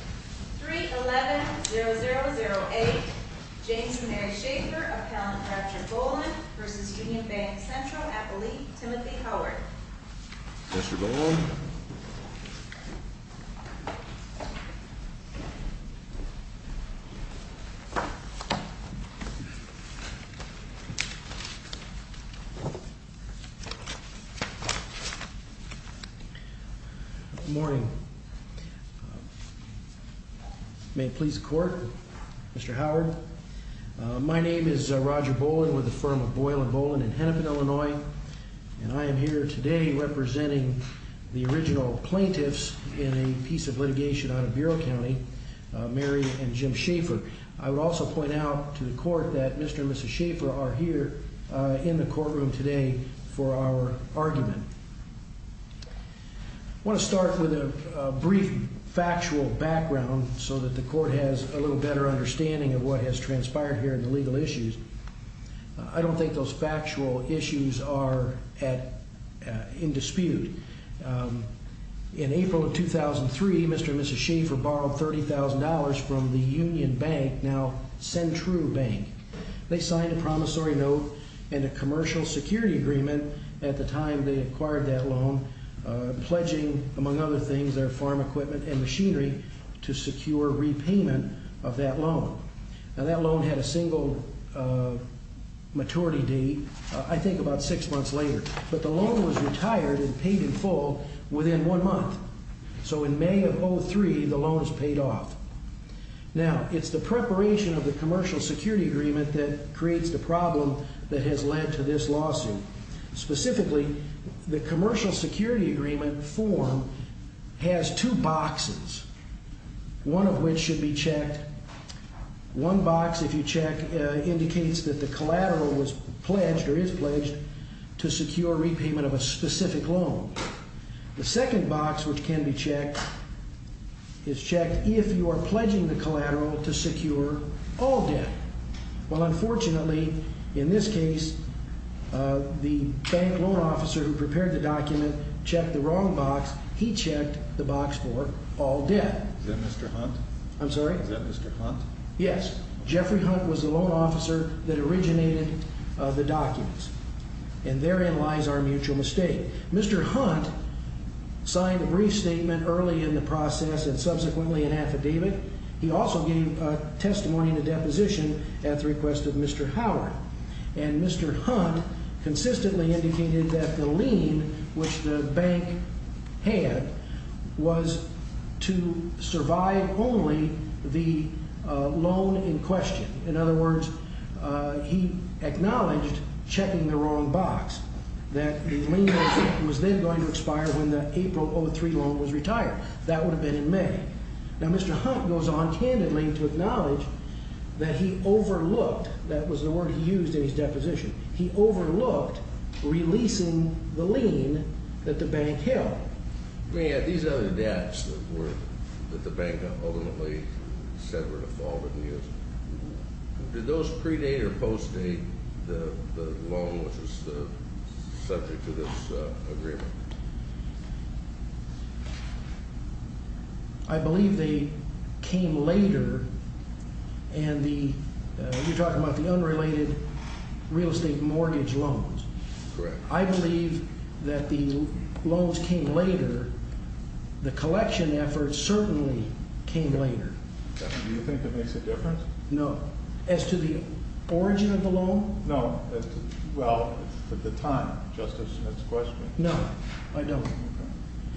311-0008 James and Mary Schafer, appellant Dr. Boland v. Unionbank Central, appellee Timothy Howard Mr. Boland Good morning May it please the court, Mr. Howard My name is Roger Boland with the firm of Boylan Boland in Hennepin, Illinois And I am here today representing the original plaintiffs in a piece of litigation out of Bureau County, Mary and Jim Schafer I would also point out to the court that Mr. and Mrs. Schafer are here in the courtroom today for our argument I want to start with a brief factual background so that the court has a little better understanding of what has transpired here in the legal issues I don't think those factual issues are in dispute In April of 2003, Mr. and Mrs. Schafer borrowed $30,000 from the Unionbank, now Centrubank They signed a promissory note and a commercial security agreement at the time they acquired that loan Pledging, among other things, their farm equipment and machinery to secure repayment of that loan Now that loan had a single maturity date, I think about six months later But the loan was retired and paid in full within one month So in May of 2003, the loan was paid off Now, it's the preparation of the commercial security agreement that creates the problem that has led to this lawsuit Specifically, the commercial security agreement form has two boxes One of which should be checked One box, if you check, indicates that the collateral was pledged or is pledged to secure repayment of a specific loan The second box, which can be checked, is checked if you are pledging the collateral to secure all debt Well, unfortunately, in this case, the bank loan officer who prepared the document checked the wrong box He checked the box for all debt Is that Mr. Hunt? I'm sorry? Is that Mr. Hunt? Yes, Jeffrey Hunt was the loan officer that originated the documents And therein lies our mutual mistake Mr. Hunt signed a brief statement early in the process and subsequently an affidavit He also gave testimony in a deposition at the request of Mr. Howard And Mr. Hunt consistently indicated that the lien which the bank had was to survive only the loan in question In other words, he acknowledged checking the wrong box That the lien was then going to expire when the April 2003 loan was retired That would have been in May Now, Mr. Hunt goes on candidly to acknowledge that he overlooked That was the word he used in his deposition He overlooked releasing the lien that the bank held I mean, at these other debts that the bank ultimately said were to fall within years Did those pre-date or post-date the loan which was subject to this agreement? I believe they came later And the, you're talking about the unrelated real estate mortgage loans I believe that the loans came later The collection efforts certainly came later Do you think that makes a difference? No, as to the origin of the loan? No, well, at the time Justice Smith's question No, I don't Do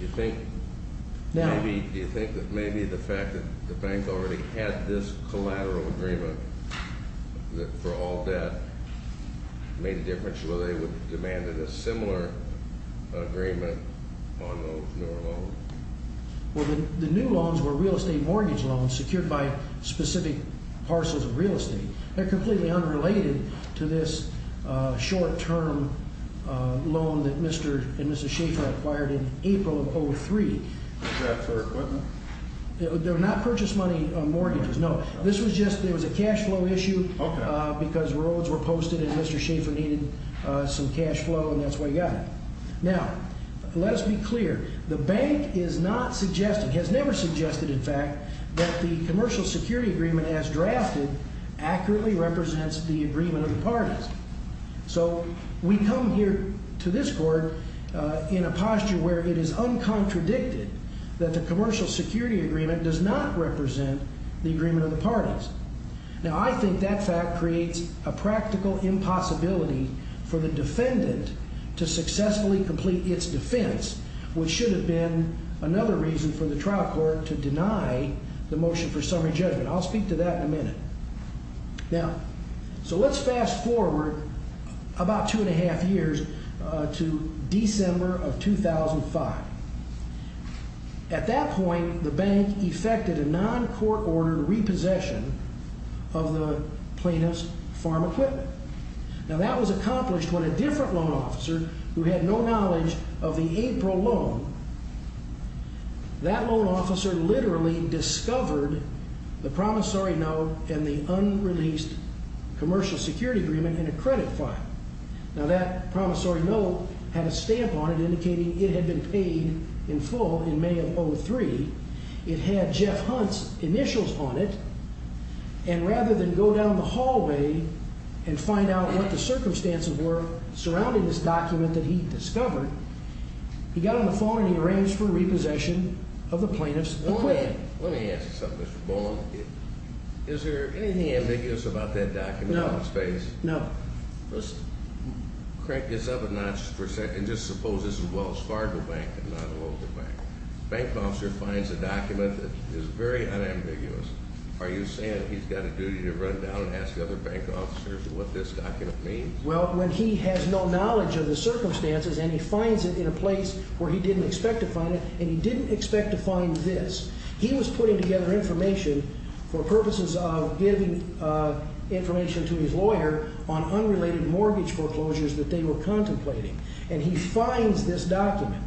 you think that maybe the fact that the bank already had this collateral agreement for all debt Made a difference whether they would have demanded a similar agreement on those newer loans? Well, the new loans were real estate mortgage loans secured by specific parcels of real estate They're completely unrelated to this short-term loan that Mr. and Mrs. Schaefer acquired in April of 2003 Is that for equipment? They're not purchase money mortgages, no This was just, there was a cash flow issue Because roads were posted and Mr. Schaefer needed some cash flow and that's why he got it Now, let us be clear The bank is not suggesting, has never suggested in fact That the commercial security agreement as drafted Accurately represents the agreement of the parties So, we come here to this court In a posture where it is uncontradicted That the commercial security agreement does not represent the agreement of the parties Now I think that fact creates a practical impossibility For the defendant to successfully complete its defense Which should have been another reason for the trial court to deny the motion for summary judgment I'll speak to that in a minute Now, so let's fast forward about two and a half years To December of 2005 At that point, the bank effected a non-court ordered repossession Of the plaintiff's farm equipment Now that was accomplished when a different loan officer Who had no knowledge of the April loan That loan officer literally discovered The promissory note and the unreleased commercial security agreement in a credit file Now that promissory note had a stamp on it Indicating it had been paid in full in May of 2003 It had Jeff Hunt's initials on it And rather than go down the hallway And find out what the circumstances were Surrounding this document that he discovered He got on the phone and he arranged for repossession of the plaintiff's equipment Let me ask you something Mr. Bowen Is there anything ambiguous about that document? No Let's crank this up a notch for a second And just suppose this is Wells Fargo Bank and not a local bank The bank officer finds a document that is very unambiguous You're saying he's got a duty to run down and ask the other bank officers what this document means? Well when he has no knowledge of the circumstances And he finds it in a place where he didn't expect to find it And he didn't expect to find this He was putting together information For purposes of giving information to his lawyer On unrelated mortgage foreclosures that they were contemplating And he finds this document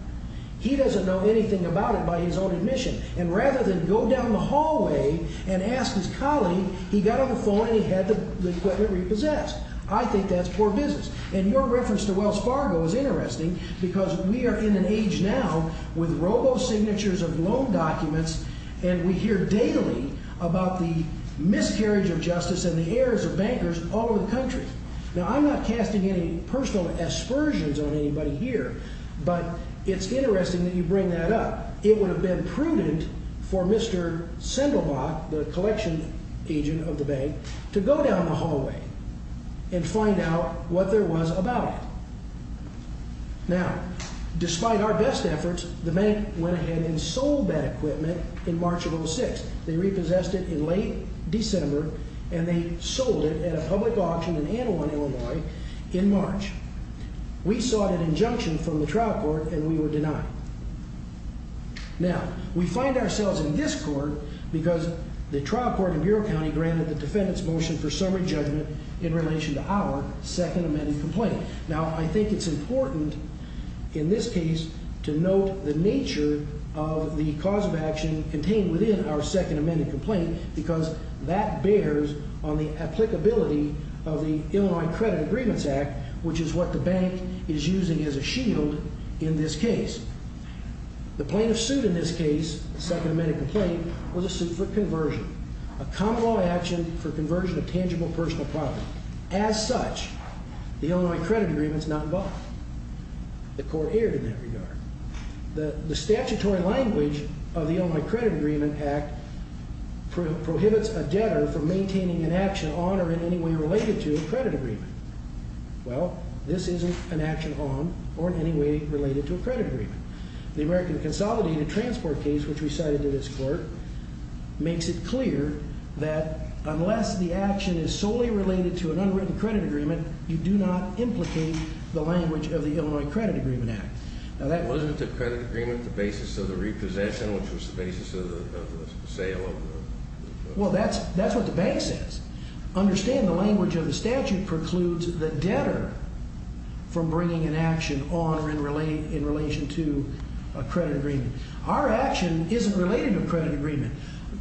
He doesn't know anything about it by his own admission And rather than go down the hallway and ask his colleague He got on the phone and he had the equipment repossessed I think that's poor business And your reference to Wells Fargo is interesting Because we are in an age now With robo-signatures of loan documents And we hear daily about the miscarriage of justice And the errors of bankers all over the country Now I'm not casting any personal aspersions on anybody here But it's interesting that you bring that up It would have been prudent for Mr. Sindelbach The collection agent of the bank To go down the hallway And find out what there was about it Now, despite our best efforts The bank went ahead and sold that equipment In March of 2006 They repossessed it in late December And they sold it at a public auction In Anaheim, Illinois in March We sought an injunction from the trial court And we were denied Now, we find ourselves in discord Because the trial court in Bureau County Granted the defendant's motion for summary judgment In relation to our second amended complaint Now I think it's important In this case to note the nature Of the cause of action Contained within our second amended complaint Because that bears on the applicability Of the Illinois Credit Agreements Act Which is what the bank is using as a shield in this case The plaintiff sued in this case The second amended complaint Was a suit for conversion A common law action for conversion Of tangible personal property As such, the Illinois Credit Agreement Is not involved The court erred in that regard The statutory language Of the Illinois Credit Agreement Act Prohibits a debtor from maintaining An action on or in any way Related to a credit agreement Well, this isn't an action on Or in any way related to a credit agreement The American Consolidated Transport case Which we cited in this court Makes it clear that Unless the action is solely related To an unwritten credit agreement You do not implicate the language Of the Illinois Credit Agreement Act Now that wasn't the credit agreement The basis of the repossession Which was the basis of the sale of the Well, that's what the bank says Understand the language of the statute Precludes the debtor From bringing an action on Or in relation to a credit agreement Our action isn't related to a credit agreement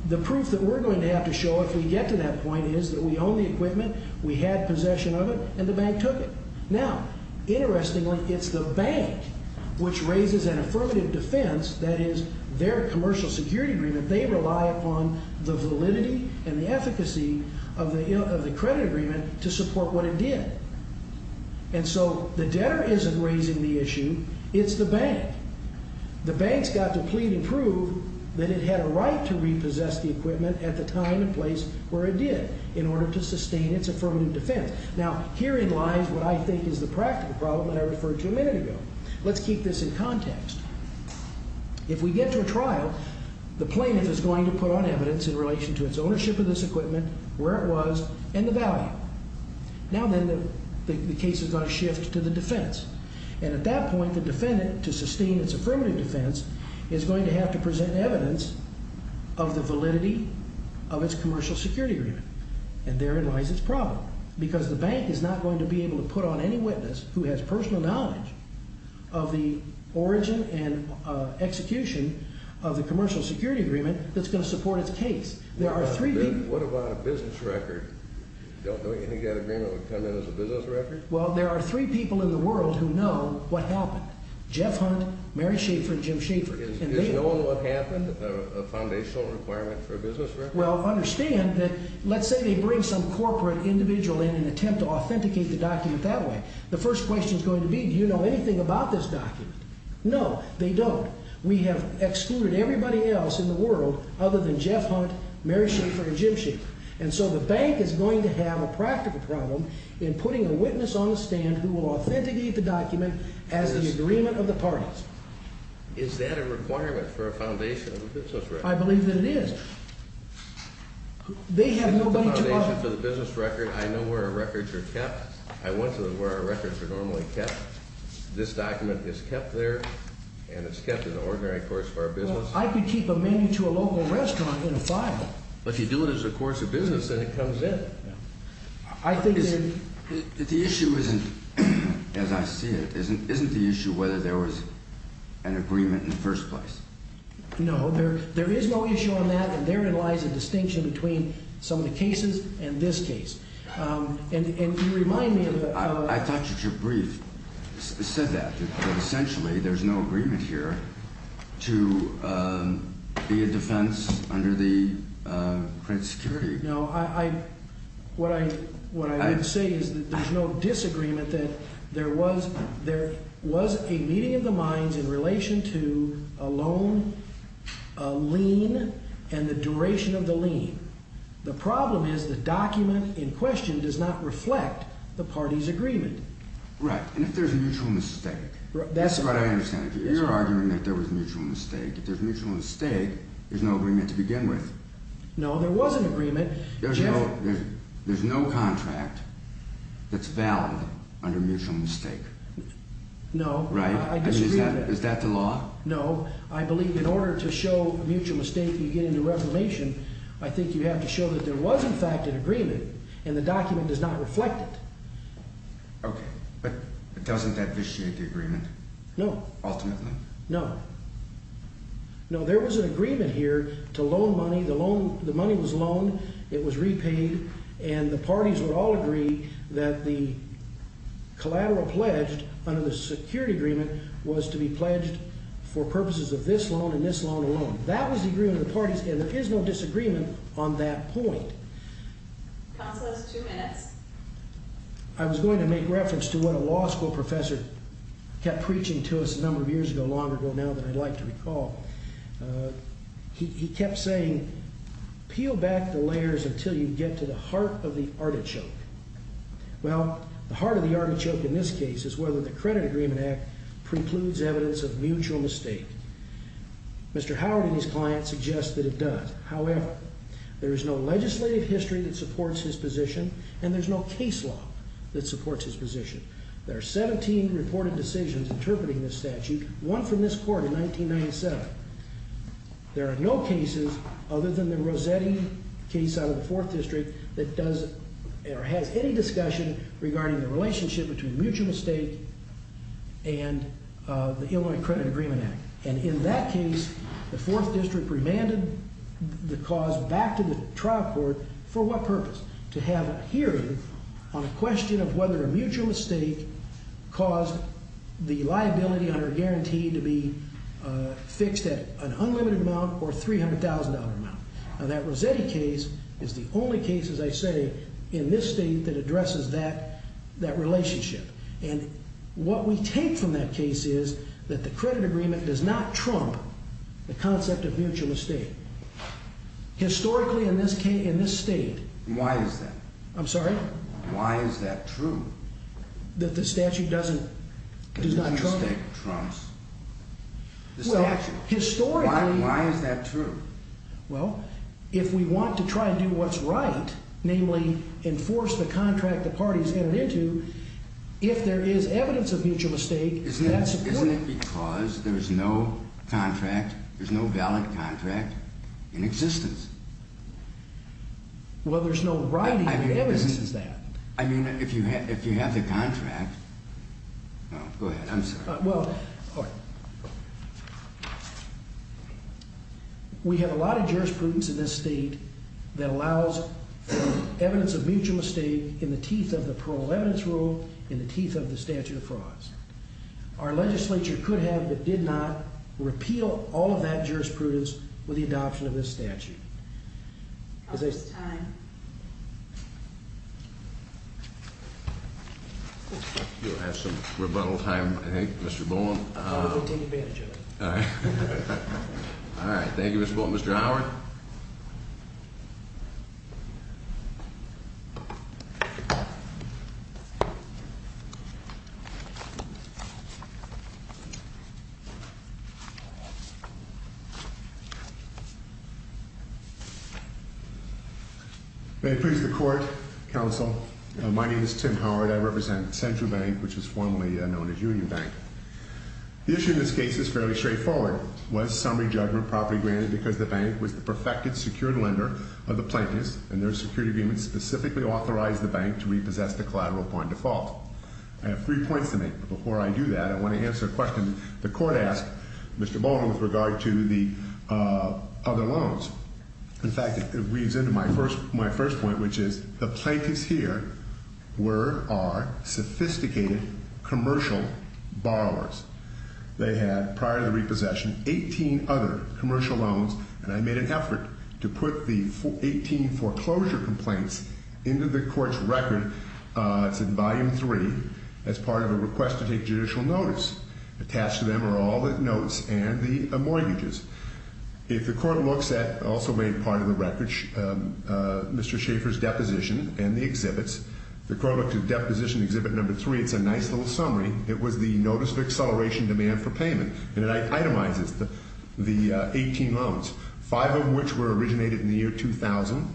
The proof that we're going to have to show If we get to that point Is that we own the equipment We had possession of it And the bank took it Now, interestingly, it's the bank Which raises an affirmative defense That is, their commercial security agreement They rely upon the validity And the efficacy of the credit agreement To support what it did The debtor isn't raising the issue It's the bank The bank's got to plead and prove That it had a right to repossess the equipment At the time and place where it did In order to sustain its affirmative defense Now, herein lies What I think is the practical problem That I referred to a minute ago Let's keep this in context If we get to a trial The plaintiff is going to put on evidence In relation to its ownership of this equipment Where it was, and the value Now then, the case is going to shift To its affirmative defense And at that point, the defendant To sustain its affirmative defense Is going to have to present evidence Of the validity Of its commercial security agreement And therein lies its problem Because the bank is not going to be able To put on any witness Who has personal knowledge Of the origin and execution Of the commercial security agreement That's going to support its case There are three people What about a business record? There are three people in the world Who know what happened Jeff Hunt, Mary Schaefer, and Jim Schaefer Is knowing what happened A foundational requirement for a business record? Well, understand that Let's say they bring some corporate individual In an attempt to authenticate the document that way The first question is going to be Do you know anything about this document? No, they don't We have excluded everybody else in the world Other than Jeff Hunt, Mary Schaefer, and Jim Schaefer And so the bank is going to have A practical problem To authenticate the document As an agreement of the parties Is that a requirement For a foundation of a business record? I believe that it is They have nobody to offer I want the foundation for the business record I know where our records are kept I want to know where our records are normally kept This document is kept there And it's kept in the ordinary course of our business Well, I could keep a menu To a local restaurant in a file But if you do it as a course of business Then it comes in I see it Isn't the issue whether there was An agreement in the first place? No, there is no issue on that And therein lies a distinction Between some of the cases And this case And you remind me of I thought your brief said that That essentially there's no agreement here To be a defense Under the print security No, I What I would say is That there's no disagreement That there was There was a meeting of the minds In relation to a loan A lien And the duration of the lien The problem is The document in question Does not reflect the parties agreement Right, and if there's a mutual mistake That's what I understand You're arguing that there was a mutual mistake If there's a mutual mistake There's no agreement to begin with No, there was an agreement That's valid Under mutual mistake No, I disagree with it Is that the law? No, I believe in order to show Mutual mistake you get into reformation I think you have to show That there was in fact an agreement And the document does not reflect it Okay, but doesn't that vitiate the agreement? No Ultimately? No, there was an agreement here To loan money, the money was loaned It was repaid And that the collateral pledged Under the security agreement Was to be pledged For purposes of this loan And this loan alone That was the agreement of the parties And there is no disagreement on that point Counsel has two minutes I was going to make reference To what a law school professor Kept preaching to us a number of years ago Long ago now that I'd like to recall He kept saying Peel back the layers Until you get to the heart The heart of the artichoke in this case Is whether the credit agreement act Precludes evidence of mutual mistake Mr. Howard and his clients Suggest that it does However, there is no legislative history That supports his position And there's no case law That supports his position There are 17 reported decisions Interpreting this statute One from this court in 1997 There are no cases Other than the Rossetti case Out of the fourth district Regarding the relationship Between mutual mistake And the Illinois credit agreement act And in that case The fourth district remanded The cause back to the trial court For what purpose To have a hearing On a question of whether A mutual mistake Caused the liability under guarantee To be fixed at an unlimited amount Or $300,000 amount Now that Rossetti case Is the only case as I say That has that relationship And what we take from that case Is that the credit agreement Does not trump The concept of mutual mistake Historically in this state Why is that? I'm sorry? Why is that true? That the statute doesn't Does not trump it The statute Why is that true? Well, if we want to try And do what's right If there is evidence Of mutual mistake Isn't it because There's no contract There's no valid contract In existence Well, there's no writing That evidences that I mean, if you have the contract Go ahead, I'm sorry We have a lot of jurisprudence In this state That allows for evidence Of mutual mistake In the teeth of the parole evidence rule In the teeth of the statute of frauds Our legislature could have But did not repeal All of that jurisprudence With the adoption of this statute Is this You'll have some rebuttal time I think, Mr. Bowen I'll take advantage of it All right, thank you Mr. Bowen Mr. Howard Thank you May it please the court, counsel My name is Tim Howard I represent Central Bank Which was formerly known as Union Bank The issue in this case Is fairly straightforward Was summary judgment properly granted Because the bank was the perfected Secured lender of the plaintiffs And their security agreement Specifically authorized the bank To repossess the collateral upon default I have three points to make But before I do that I want to answer a question The court asked Mr. Bowen With regard to the other loans In fact, it weaves into my first point Which is the plaintiffs here Were or are sophisticated Commercial borrowers They had, prior to the repossession Of those loans And I made an effort To put the 18 foreclosure complaints Into the court's record It's in volume 3 As part of a request to take judicial notice Attached to them are all the notes And the mortgages If the court looks at Also made part of the record Mr. Schaefer's deposition And the exhibits If the court looks at deposition Exhibit number 3 It's a nice little summary Of the 18 loans 5 of which were originated In the year 2000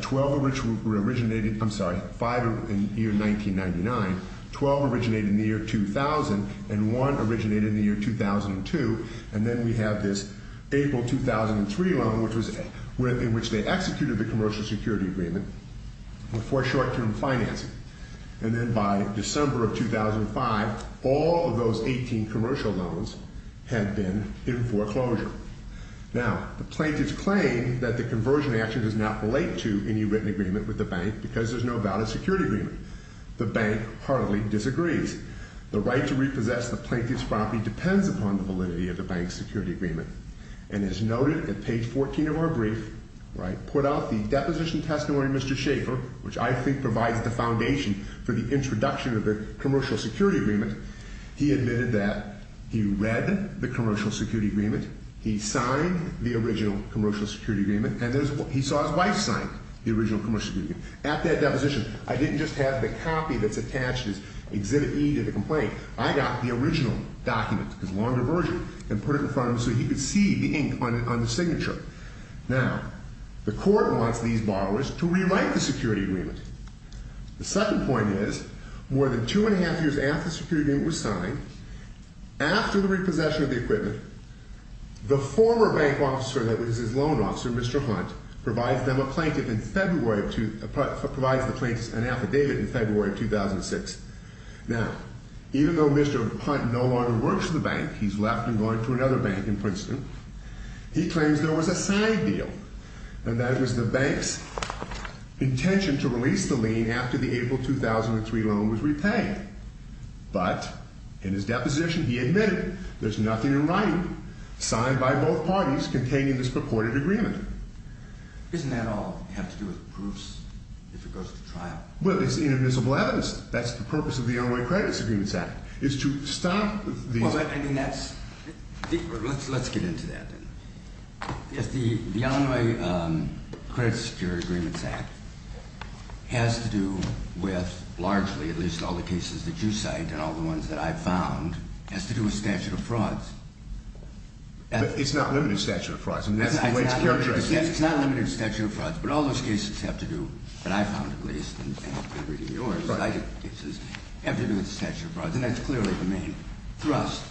12 of which were originated I'm sorry, 5 in the year 1999 12 originated in the year 2000 And 1 originated in the year 2002 And then we have this April 2003 loan In which they executed The commercial security agreement Before short-term financing And then by December of 2005 All of those 18 commercial loans Had been in foreclosure The plaintiff's claim That the conversion action Does not relate to any written agreement With the bank Because there's no valid security agreement The bank heartily disagrees The right to repossess the plaintiff's property Depends upon the validity Of the bank's security agreement And as noted at page 14 of our brief I put out the deposition testimony Mr. Schaefer Which I think provides the foundation For the introduction Of the commercial security agreement The original commercial security agreement And he saw his wife sign The original commercial security agreement At that deposition I didn't just have the copy That's attached as Exhibit E to the complaint I got the original document Because the longer version And put it in front of him So he could see the ink on the signature Now, the court wants these borrowers To rewrite the security agreement The second point is More than two and a half years After the security agreement was signed Mr. Hunt, that was his loan officer Mr. Hunt provides them a plaintiff In February of Provides the plaintiffs an affidavit In February of 2006 Now, even though Mr. Hunt No longer works for the bank He's left and gone to another bank In Princeton He claims there was a signed deal And that it was the bank's Intention to release the lien After the April 2003 loan was repaid But, in his deposition He admitted there's nothing in writing About the reported agreement Isn't that all have to do with proofs If it goes to trial? Well, it's inadmissible evidence That's the purpose of The Unway Credit Security Agreements Act Is to stop the Well, I mean, that's Let's get into that The Unway Credit Security Agreements Act Has to do with Largely, at least all the cases That you cite and all the ones That I've found Has to do with statute of frauds It's not limited to statute of frauds But all those cases have to do That I've found, at least And have to do with the statute of frauds And that's clearly the main thrust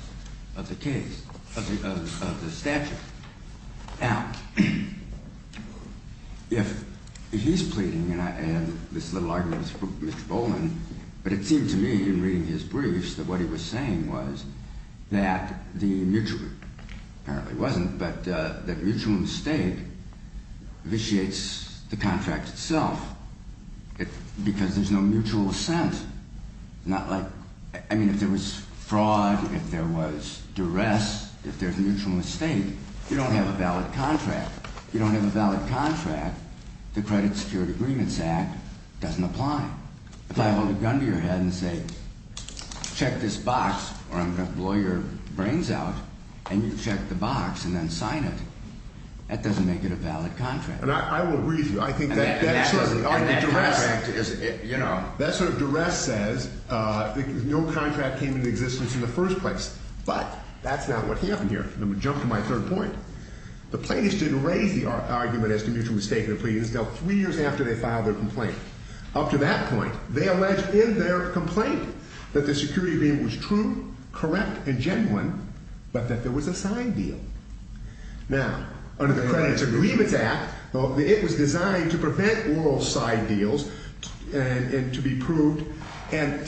Of the case Of the statute Now If he's pleading And I have this little argument With Mr. Boland But it seemed to me In reading his briefs That what he was saying was That the mutual Mistake Vitiates the contract itself Because there's no mutual assent Not like I mean, if there was fraud If there was duress If there's a mutual mistake You don't have a valid contract You don't have a valid contract The Credit Security Agreements Act Doesn't apply If I hold a gun to your head and say Check this box Or I'm going to blow your brains out And you check the box And then sign it That doesn't make it a valid contract And I will agree with you I think that sort of duress That sort of duress says No contract came into existence In the first place But that's not what happened here Let me jump to my third point The plaintiffs didn't raise the argument As to mutual mistake in their pleadings Until three years after they filed their complaint Up to that point They alleged in their complaint That there was a signed deal Now, under the Credit Agreements Act It was designed to prevent Oral signed deals And to be proved In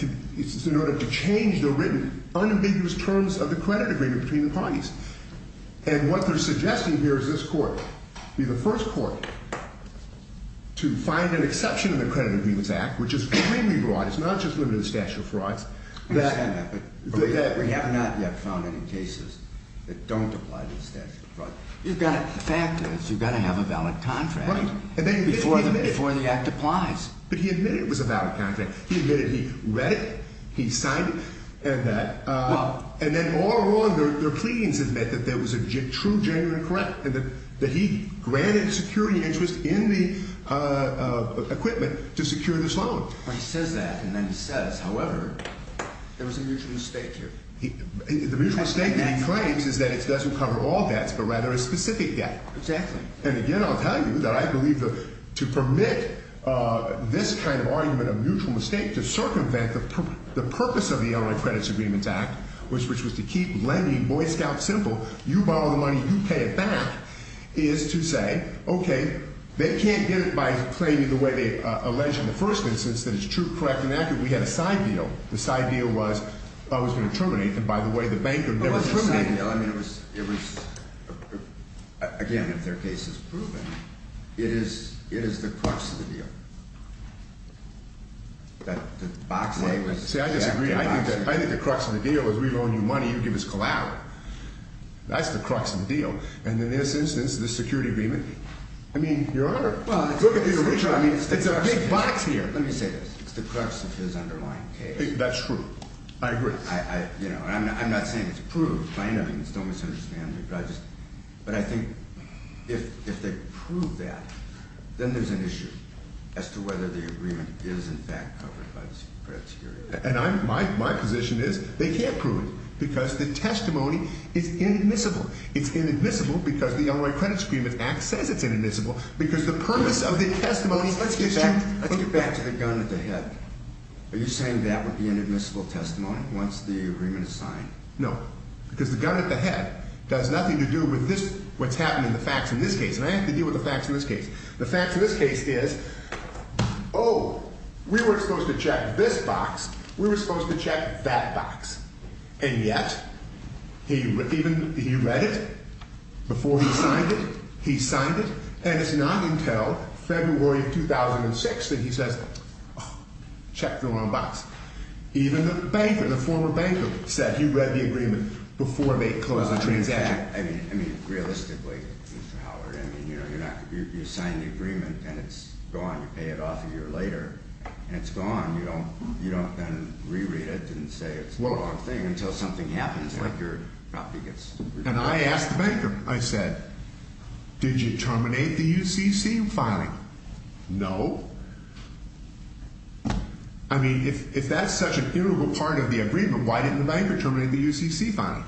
order to change the written Unambiguous terms of the credit agreement Between the parties And what they're suggesting here Is this court Be the first court To find an exception In the Credit Agreements Act Which is extremely broad It's not just limited to statute of frauds That don't apply to the statute of frauds The fact is You've got to have a valid contract Before the act applies But he admitted it was a valid contract He admitted he read it He signed it And then all along Their pleadings admit That there was a true, genuine, and correct That he granted security interest In the equipment To secure this loan He says that And then he says That it doesn't cover all debts But rather a specific debt And again I'll tell you That I believe To permit this kind of argument A mutual mistake To circumvent the purpose Of the Illinois Credit Agreements Act Which was to keep lending Boy Scouts simple You borrow the money You pay it back Is to say Okay, they can't get it By claiming the way It was Again, if their case is proven It is the crux of the deal That the box A was See, I disagree I think the crux of the deal Is we loan you money You give us collateral That's the crux of the deal And in this instance This security agreement I mean, your honor Look at the original It's a big box here I understand But I think If they prove that Then there's an issue As to whether the agreement Is in fact covered And my position is They can't prove it Because the testimony Is inadmissible It's inadmissible because The Illinois Credit Agreement Act says it's inadmissible Let's get back to the gun at the head Are you saying that Does nothing to do with What's happening in the facts in this case And I have to deal with the facts in this case The facts in this case is Oh, we weren't supposed to check this box We were supposed to check that box And yet He read it Before he signed it He signed it And it's not until February of 2006 That he says Check the wrong box Even the banker, the former banker Said he read the agreement Before they closed the transaction Exactly, I mean, realistically Mr. Howard, I mean You sign the agreement And it's gone You pay it off a year later And it's gone You don't then re-read it And say it's the wrong thing Until something happens Like your property gets And I asked the banker I said, did you terminate the UCC filing No Did the banker terminate the UCC filing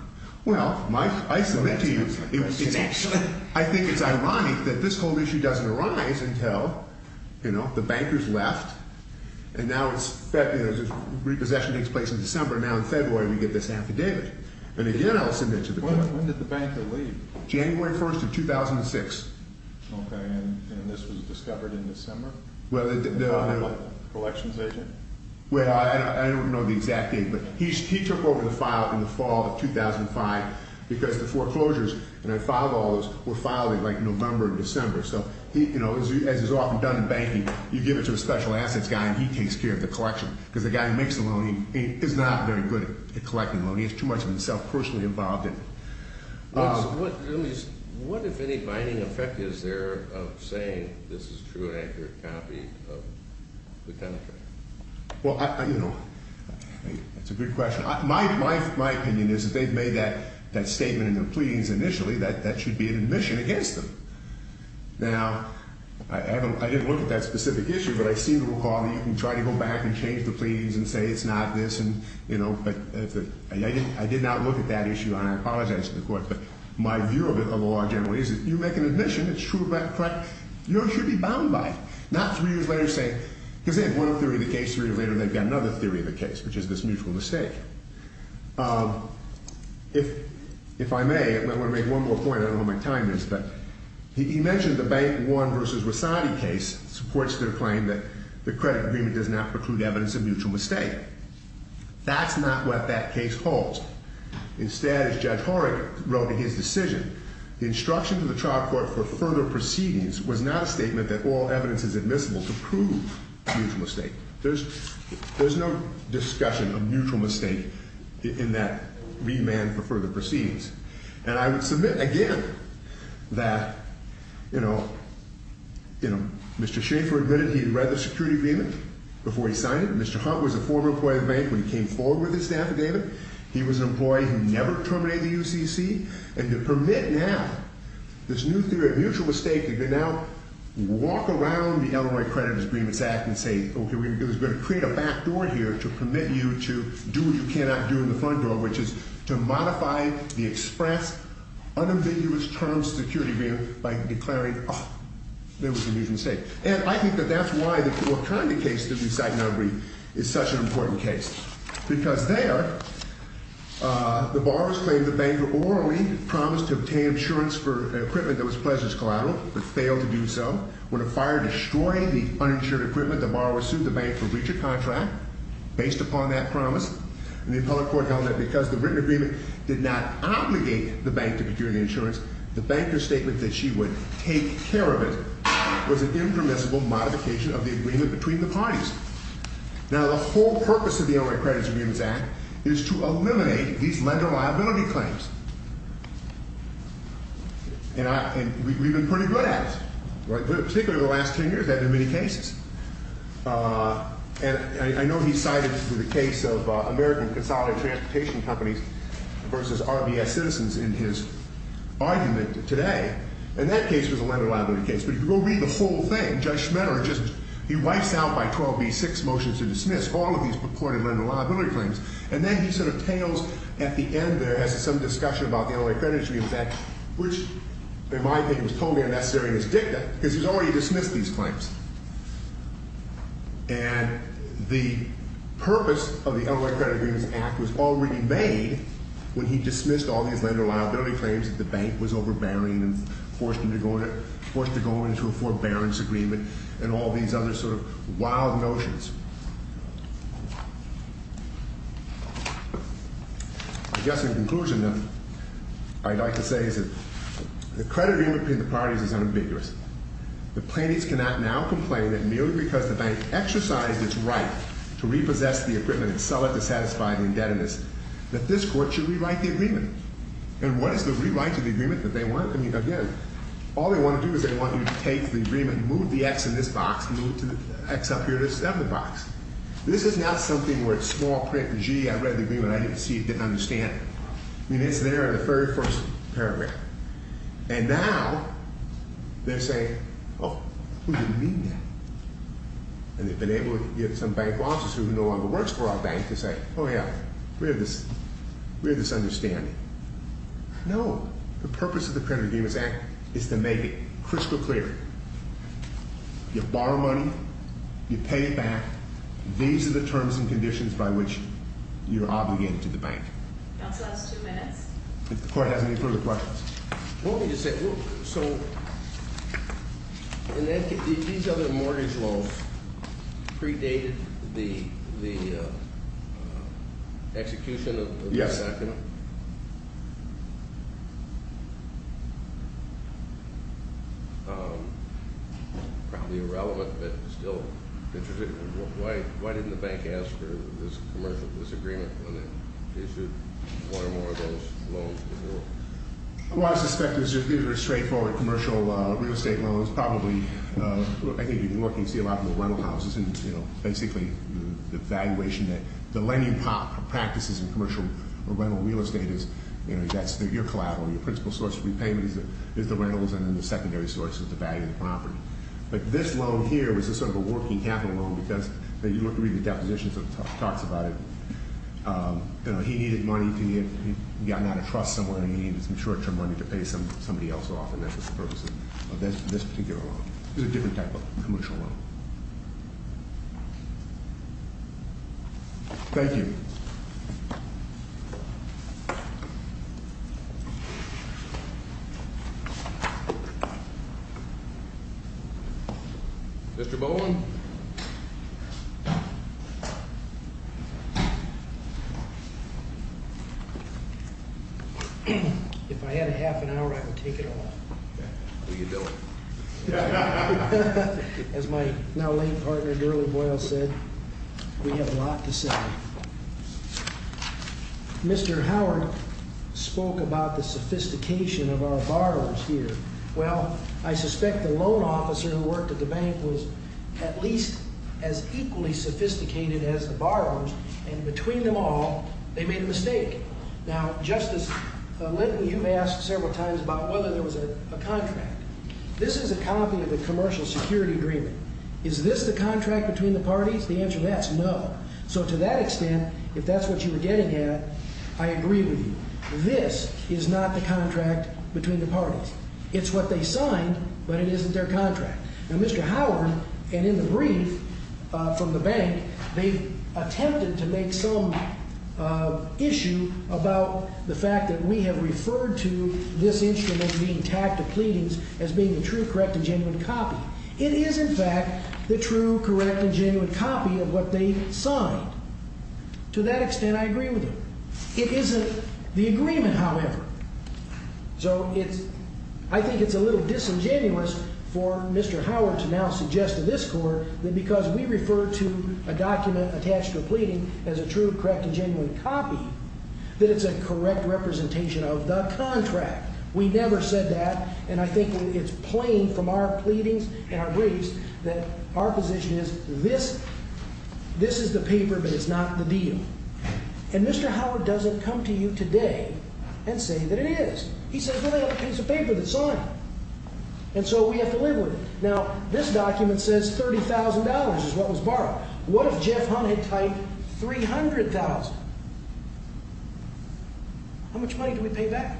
Well, Mike, I submit to you It's actually I think it's ironic that this whole issue Doesn't arise until You know, the banker's left And now it's Repossession takes place in December Now in February we get this affidavit And again I'll submit to the court When did the banker leave January 1st of 2006 Okay, and this was discovered in December By what, the collections agent Well, I don't know the exact date But it was reported to the file In the fall of 2005 Because the foreclosures And I filed all those Were filed in like November or December So, you know, as is often done in banking You give it to a special assets guy And he takes care of the collection Because the guy who makes the loan Is not very good at collecting the loan He has too much of himself personally involved in it What if any binding effect is there Of saying this is a true and accurate copy Of the penetrator Well, you know My opinion is If they've made that statement In their pleadings initially That that should be an admission against them Now, I didn't look at that specific issue But I seem to recall That you can try to go back And change the pleadings And say it's not this I did not look at that issue And I apologize to the court But my view of the law generally Is that if you make an admission It's true and correct You should be bound by it If I may I want to make one more point I don't know what my time is But he mentioned the Bank One Versus Rosati case Supports their claim that The credit agreement does not preclude Evidence of mutual mistake That's not what that case holds Instead, as Judge Horak wrote In his decision The instruction to the trial court For further proceedings Was not a statement that all evidence Is admissible to prove mutual mistake In that remand for further proceedings And I would submit again That, you know Mr. Schaefer admitted He had read the security agreement Before he signed it Mr. Hunt was a former employee of the bank When he came forward with his affidavit He was an employee Who never terminated the UCC And to permit now This new theory of mutual mistake You can now walk around The Illinois Creditor's Agreements Act And say, okay, we're going to Go to court, which is To modify the express Unambiguous term security agreement By declaring, oh There was a mutual mistake And I think that that's why The current case that we cite Is such an important case Because there The borrower's claim The banker orally promised To obtain insurance for equipment That was pleasures collateral But failed to do so When a fire destroyed Because the written agreement Did not obligate the bank To procure the insurance The banker's statement That she would take care of it Was an impermissible modification Of the agreement between the parties Now the whole purpose Of the Illinois Creditor's Agreements Act Is to eliminate These lender liability claims And we've been pretty good at it Particularly the last ten years We've had many cases And I know he cited A lot of litigation companies Versus RBS citizens In his argument today And that case was a lender liability case But if you go read the whole thing Judge Schmitter just He wipes out by 12b Six motions to dismiss All of these purported lender liability claims And then he sort of tails At the end there as to some discussion About the Illinois Creditor's Agreement Act Which in my opinion Was totally unnecessary in his dicta Because he's already dismissed these claims Which he made When he dismissed all these lender liability claims That the bank was overbearing And forced him to go into A forbearance agreement And all these other sort of wild notions I guess in conclusion I'd like to say is that The credit agreement between the parties Is unambiguous The plaintiffs cannot now complain That merely because the bank Exercised its right To say that this court Should rewrite the agreement And what is the rewrite of the agreement That they want? I mean again All they want to do is They want you to take the agreement Move the x in this box Move the x up here to this other box This is not something where It's small print Gee I read the agreement I didn't see it didn't understand it I mean it's there in the very first paragraph And now they're saying We have this understanding No The purpose of the credit agreement Is to make it crystal clear You borrow money You pay it back These are the terms and conditions By which you're obligated to the bank That's the last two minutes If the court has any further questions Well let me just say So These other mortgage laws Predated the Execution of this document Yes Probably irrelevant But still Why didn't the bank ask for This commercial This agreement When it issued one or more Of those loans to Newark Well I suspect it was just Either a straight forward Commercial real estate loans Probably I think in Newark you can see A lot more rental houses And basically the valuation The lending practices In commercial or rental real estate That's your collateral Your principal source of repayment Is the rentals And then the secondary source Is the value of the property But this loan here Is sort of a working capital loan Because you look through the depositions And it talks about You know It's a different type of commercial loan Thank you Mr. Bowen If I had a half an hour I would take it all We could do it As my now late partner Durley Boyle said We have a lot to say Mr. Howard Spoke about the sophistication Of our borrowers here Well I suspect the loan officer Who worked at the bank Was at least as equally Sophisticated as the borrowers And between them all They made a mistake Now Justice Linton This is not a contract This is a copy Of the commercial security agreement Is this the contract Between the parties The answer to that is no So to that extent If that's what you were getting at I agree with you This is not the contract Between the parties It's what they signed But it isn't their contract Now Mr. Howard And in the brief We refer to pleadings As being a true, correct And genuine copy It is in fact The true, correct And genuine copy Of what they signed To that extent I agree with you It isn't the agreement however So I think it's a little Disingenuous for Mr. Howard That because we refer to A document attached to a pleading As a true, correct And I think it's plain From our pleadings and our briefs That our position is This is the paper But it's not the deal And Mr. Howard doesn't come to you today And say that it is He says well it's a piece of paper that's signed And so we have to live with it Now this document says $30,000 is what was borrowed What if Jeff Hunt had typed $300,000 How much money do we pay back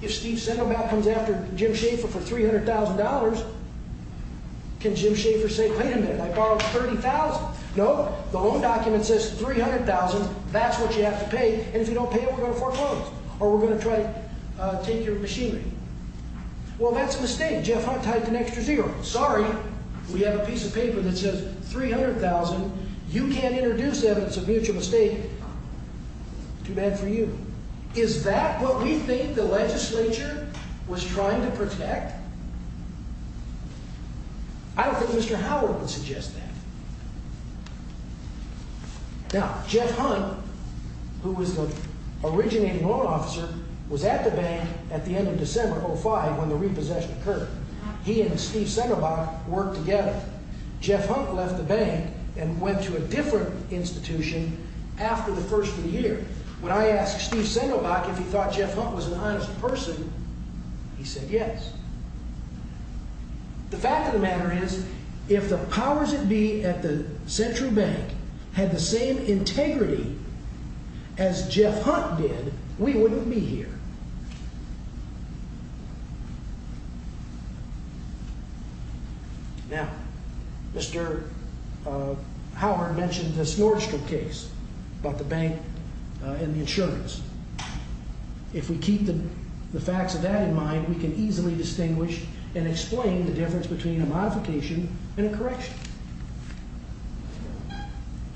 If Steve Sandoval comes after Jim Schaefer for $300,000 Can Jim Schaefer say Wait a minute I borrowed $30,000 No the loan document says $300,000 That's what you have to pay And if you don't pay We're going to foreclose Or we're going to try To take your machinery Well that's a mistake Jeff Hunt typed an extra zero Sorry we have a piece of paper That says $300,000 You can't introduce evidence And what we think the legislature Was trying to protect I don't think Mr. Howard would suggest that Now Jeff Hunt Who was the originating loan officer Was at the bank At the end of December 2005 When the repossession occurred He and Steve Sandoval worked together Jeff Hunt left the bank And went to a different institution After the first of the year When I asked Steve Sandoval If Jeff Hunt was an honest person He said yes The fact of the matter is If the powers that be at the Central Bank Had the same integrity As Jeff Hunt did We wouldn't be here Now Mr. Howard mentioned The Snorkel case About the bank and the insurance If we keep the facts of that in mind We can easily distinguish And explain the difference Between a modification and a correction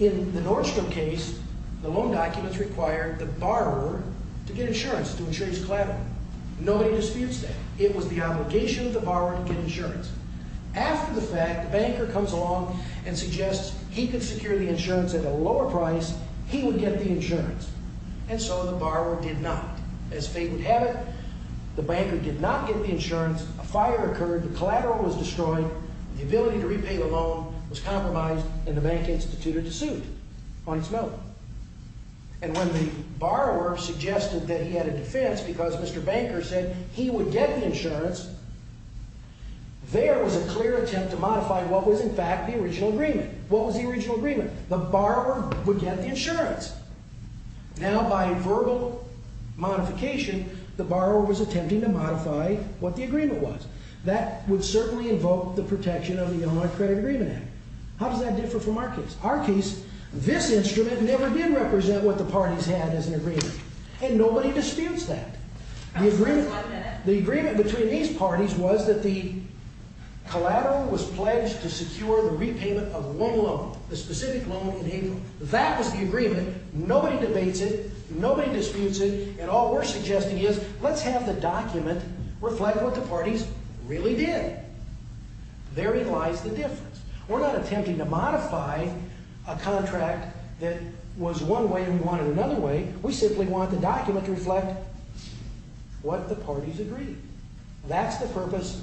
In the Nordstrom case The loan documents required The borrower to get insurance To insure his collateral Nobody disputes that It was the obligation of the borrower To get insurance After the fact the banker comes along And suggests he could secure the insurance At a lower price The borrower did not As fate would have it The banker did not get the insurance A fire occurred The collateral was destroyed The ability to repay the loan Was compromised And the bank instituted a suit On its note And when the borrower suggested That he had a defense Because Mr. Banker said He would get the insurance There was a clear attempt To modify what was in fact No modification The borrower was attempting To modify what the agreement was That would certainly invoke The protection of the Illinois Credit Agreement Act How does that differ from our case? Our case, this instrument Never did represent What the parties had as an agreement And nobody disputes that The agreement between these parties Was that the collateral Was pledged to secure The repayment of one loan Nobody disputes it And all we're suggesting is Let's have the document Reflect what the parties Really did Therein lies the difference We're not attempting to modify A contract that was one way And we want it another way We simply want the document To reflect what the parties agreed That's the purpose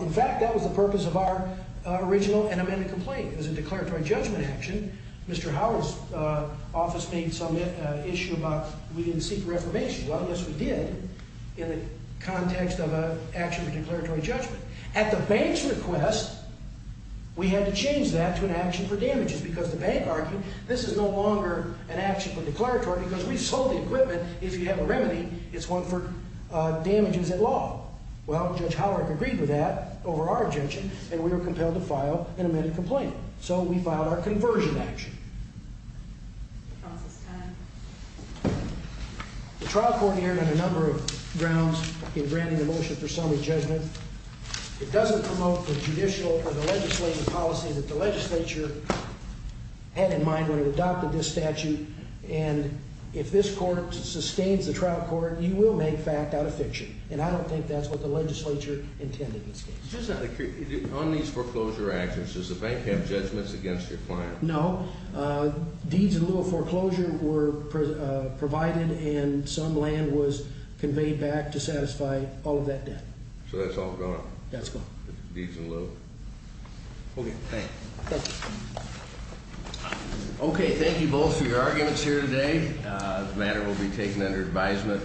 In fact that was the purpose Of our original and amended complaint It was a declaratory judgment action Because we didn't seek Reformation, well yes we did In the context of an action Of a declaratory judgment At the bank's request We had to change that To an action for damages Because the bank argued This is no longer an action For declaratory because We sold the equipment If you have a remedy It's one for damages at law Well Judge Howard agreed with that Over our objection The trial court neared On a number of grounds In granting the motion For summary judgment It doesn't promote the judicial Or the legislative policy That the legislature had in mind When it adopted this statute And if this court sustains The trial court You will make fact out of fiction And I don't think that's what The legislature intended in this case On these foreclosure actions Does the bank have judgments That were provided And some land was conveyed back To satisfy all of that debt So that's all gone That's gone Okay, thanks Okay, thank you both For your arguments here today The matter will be taken Under advisement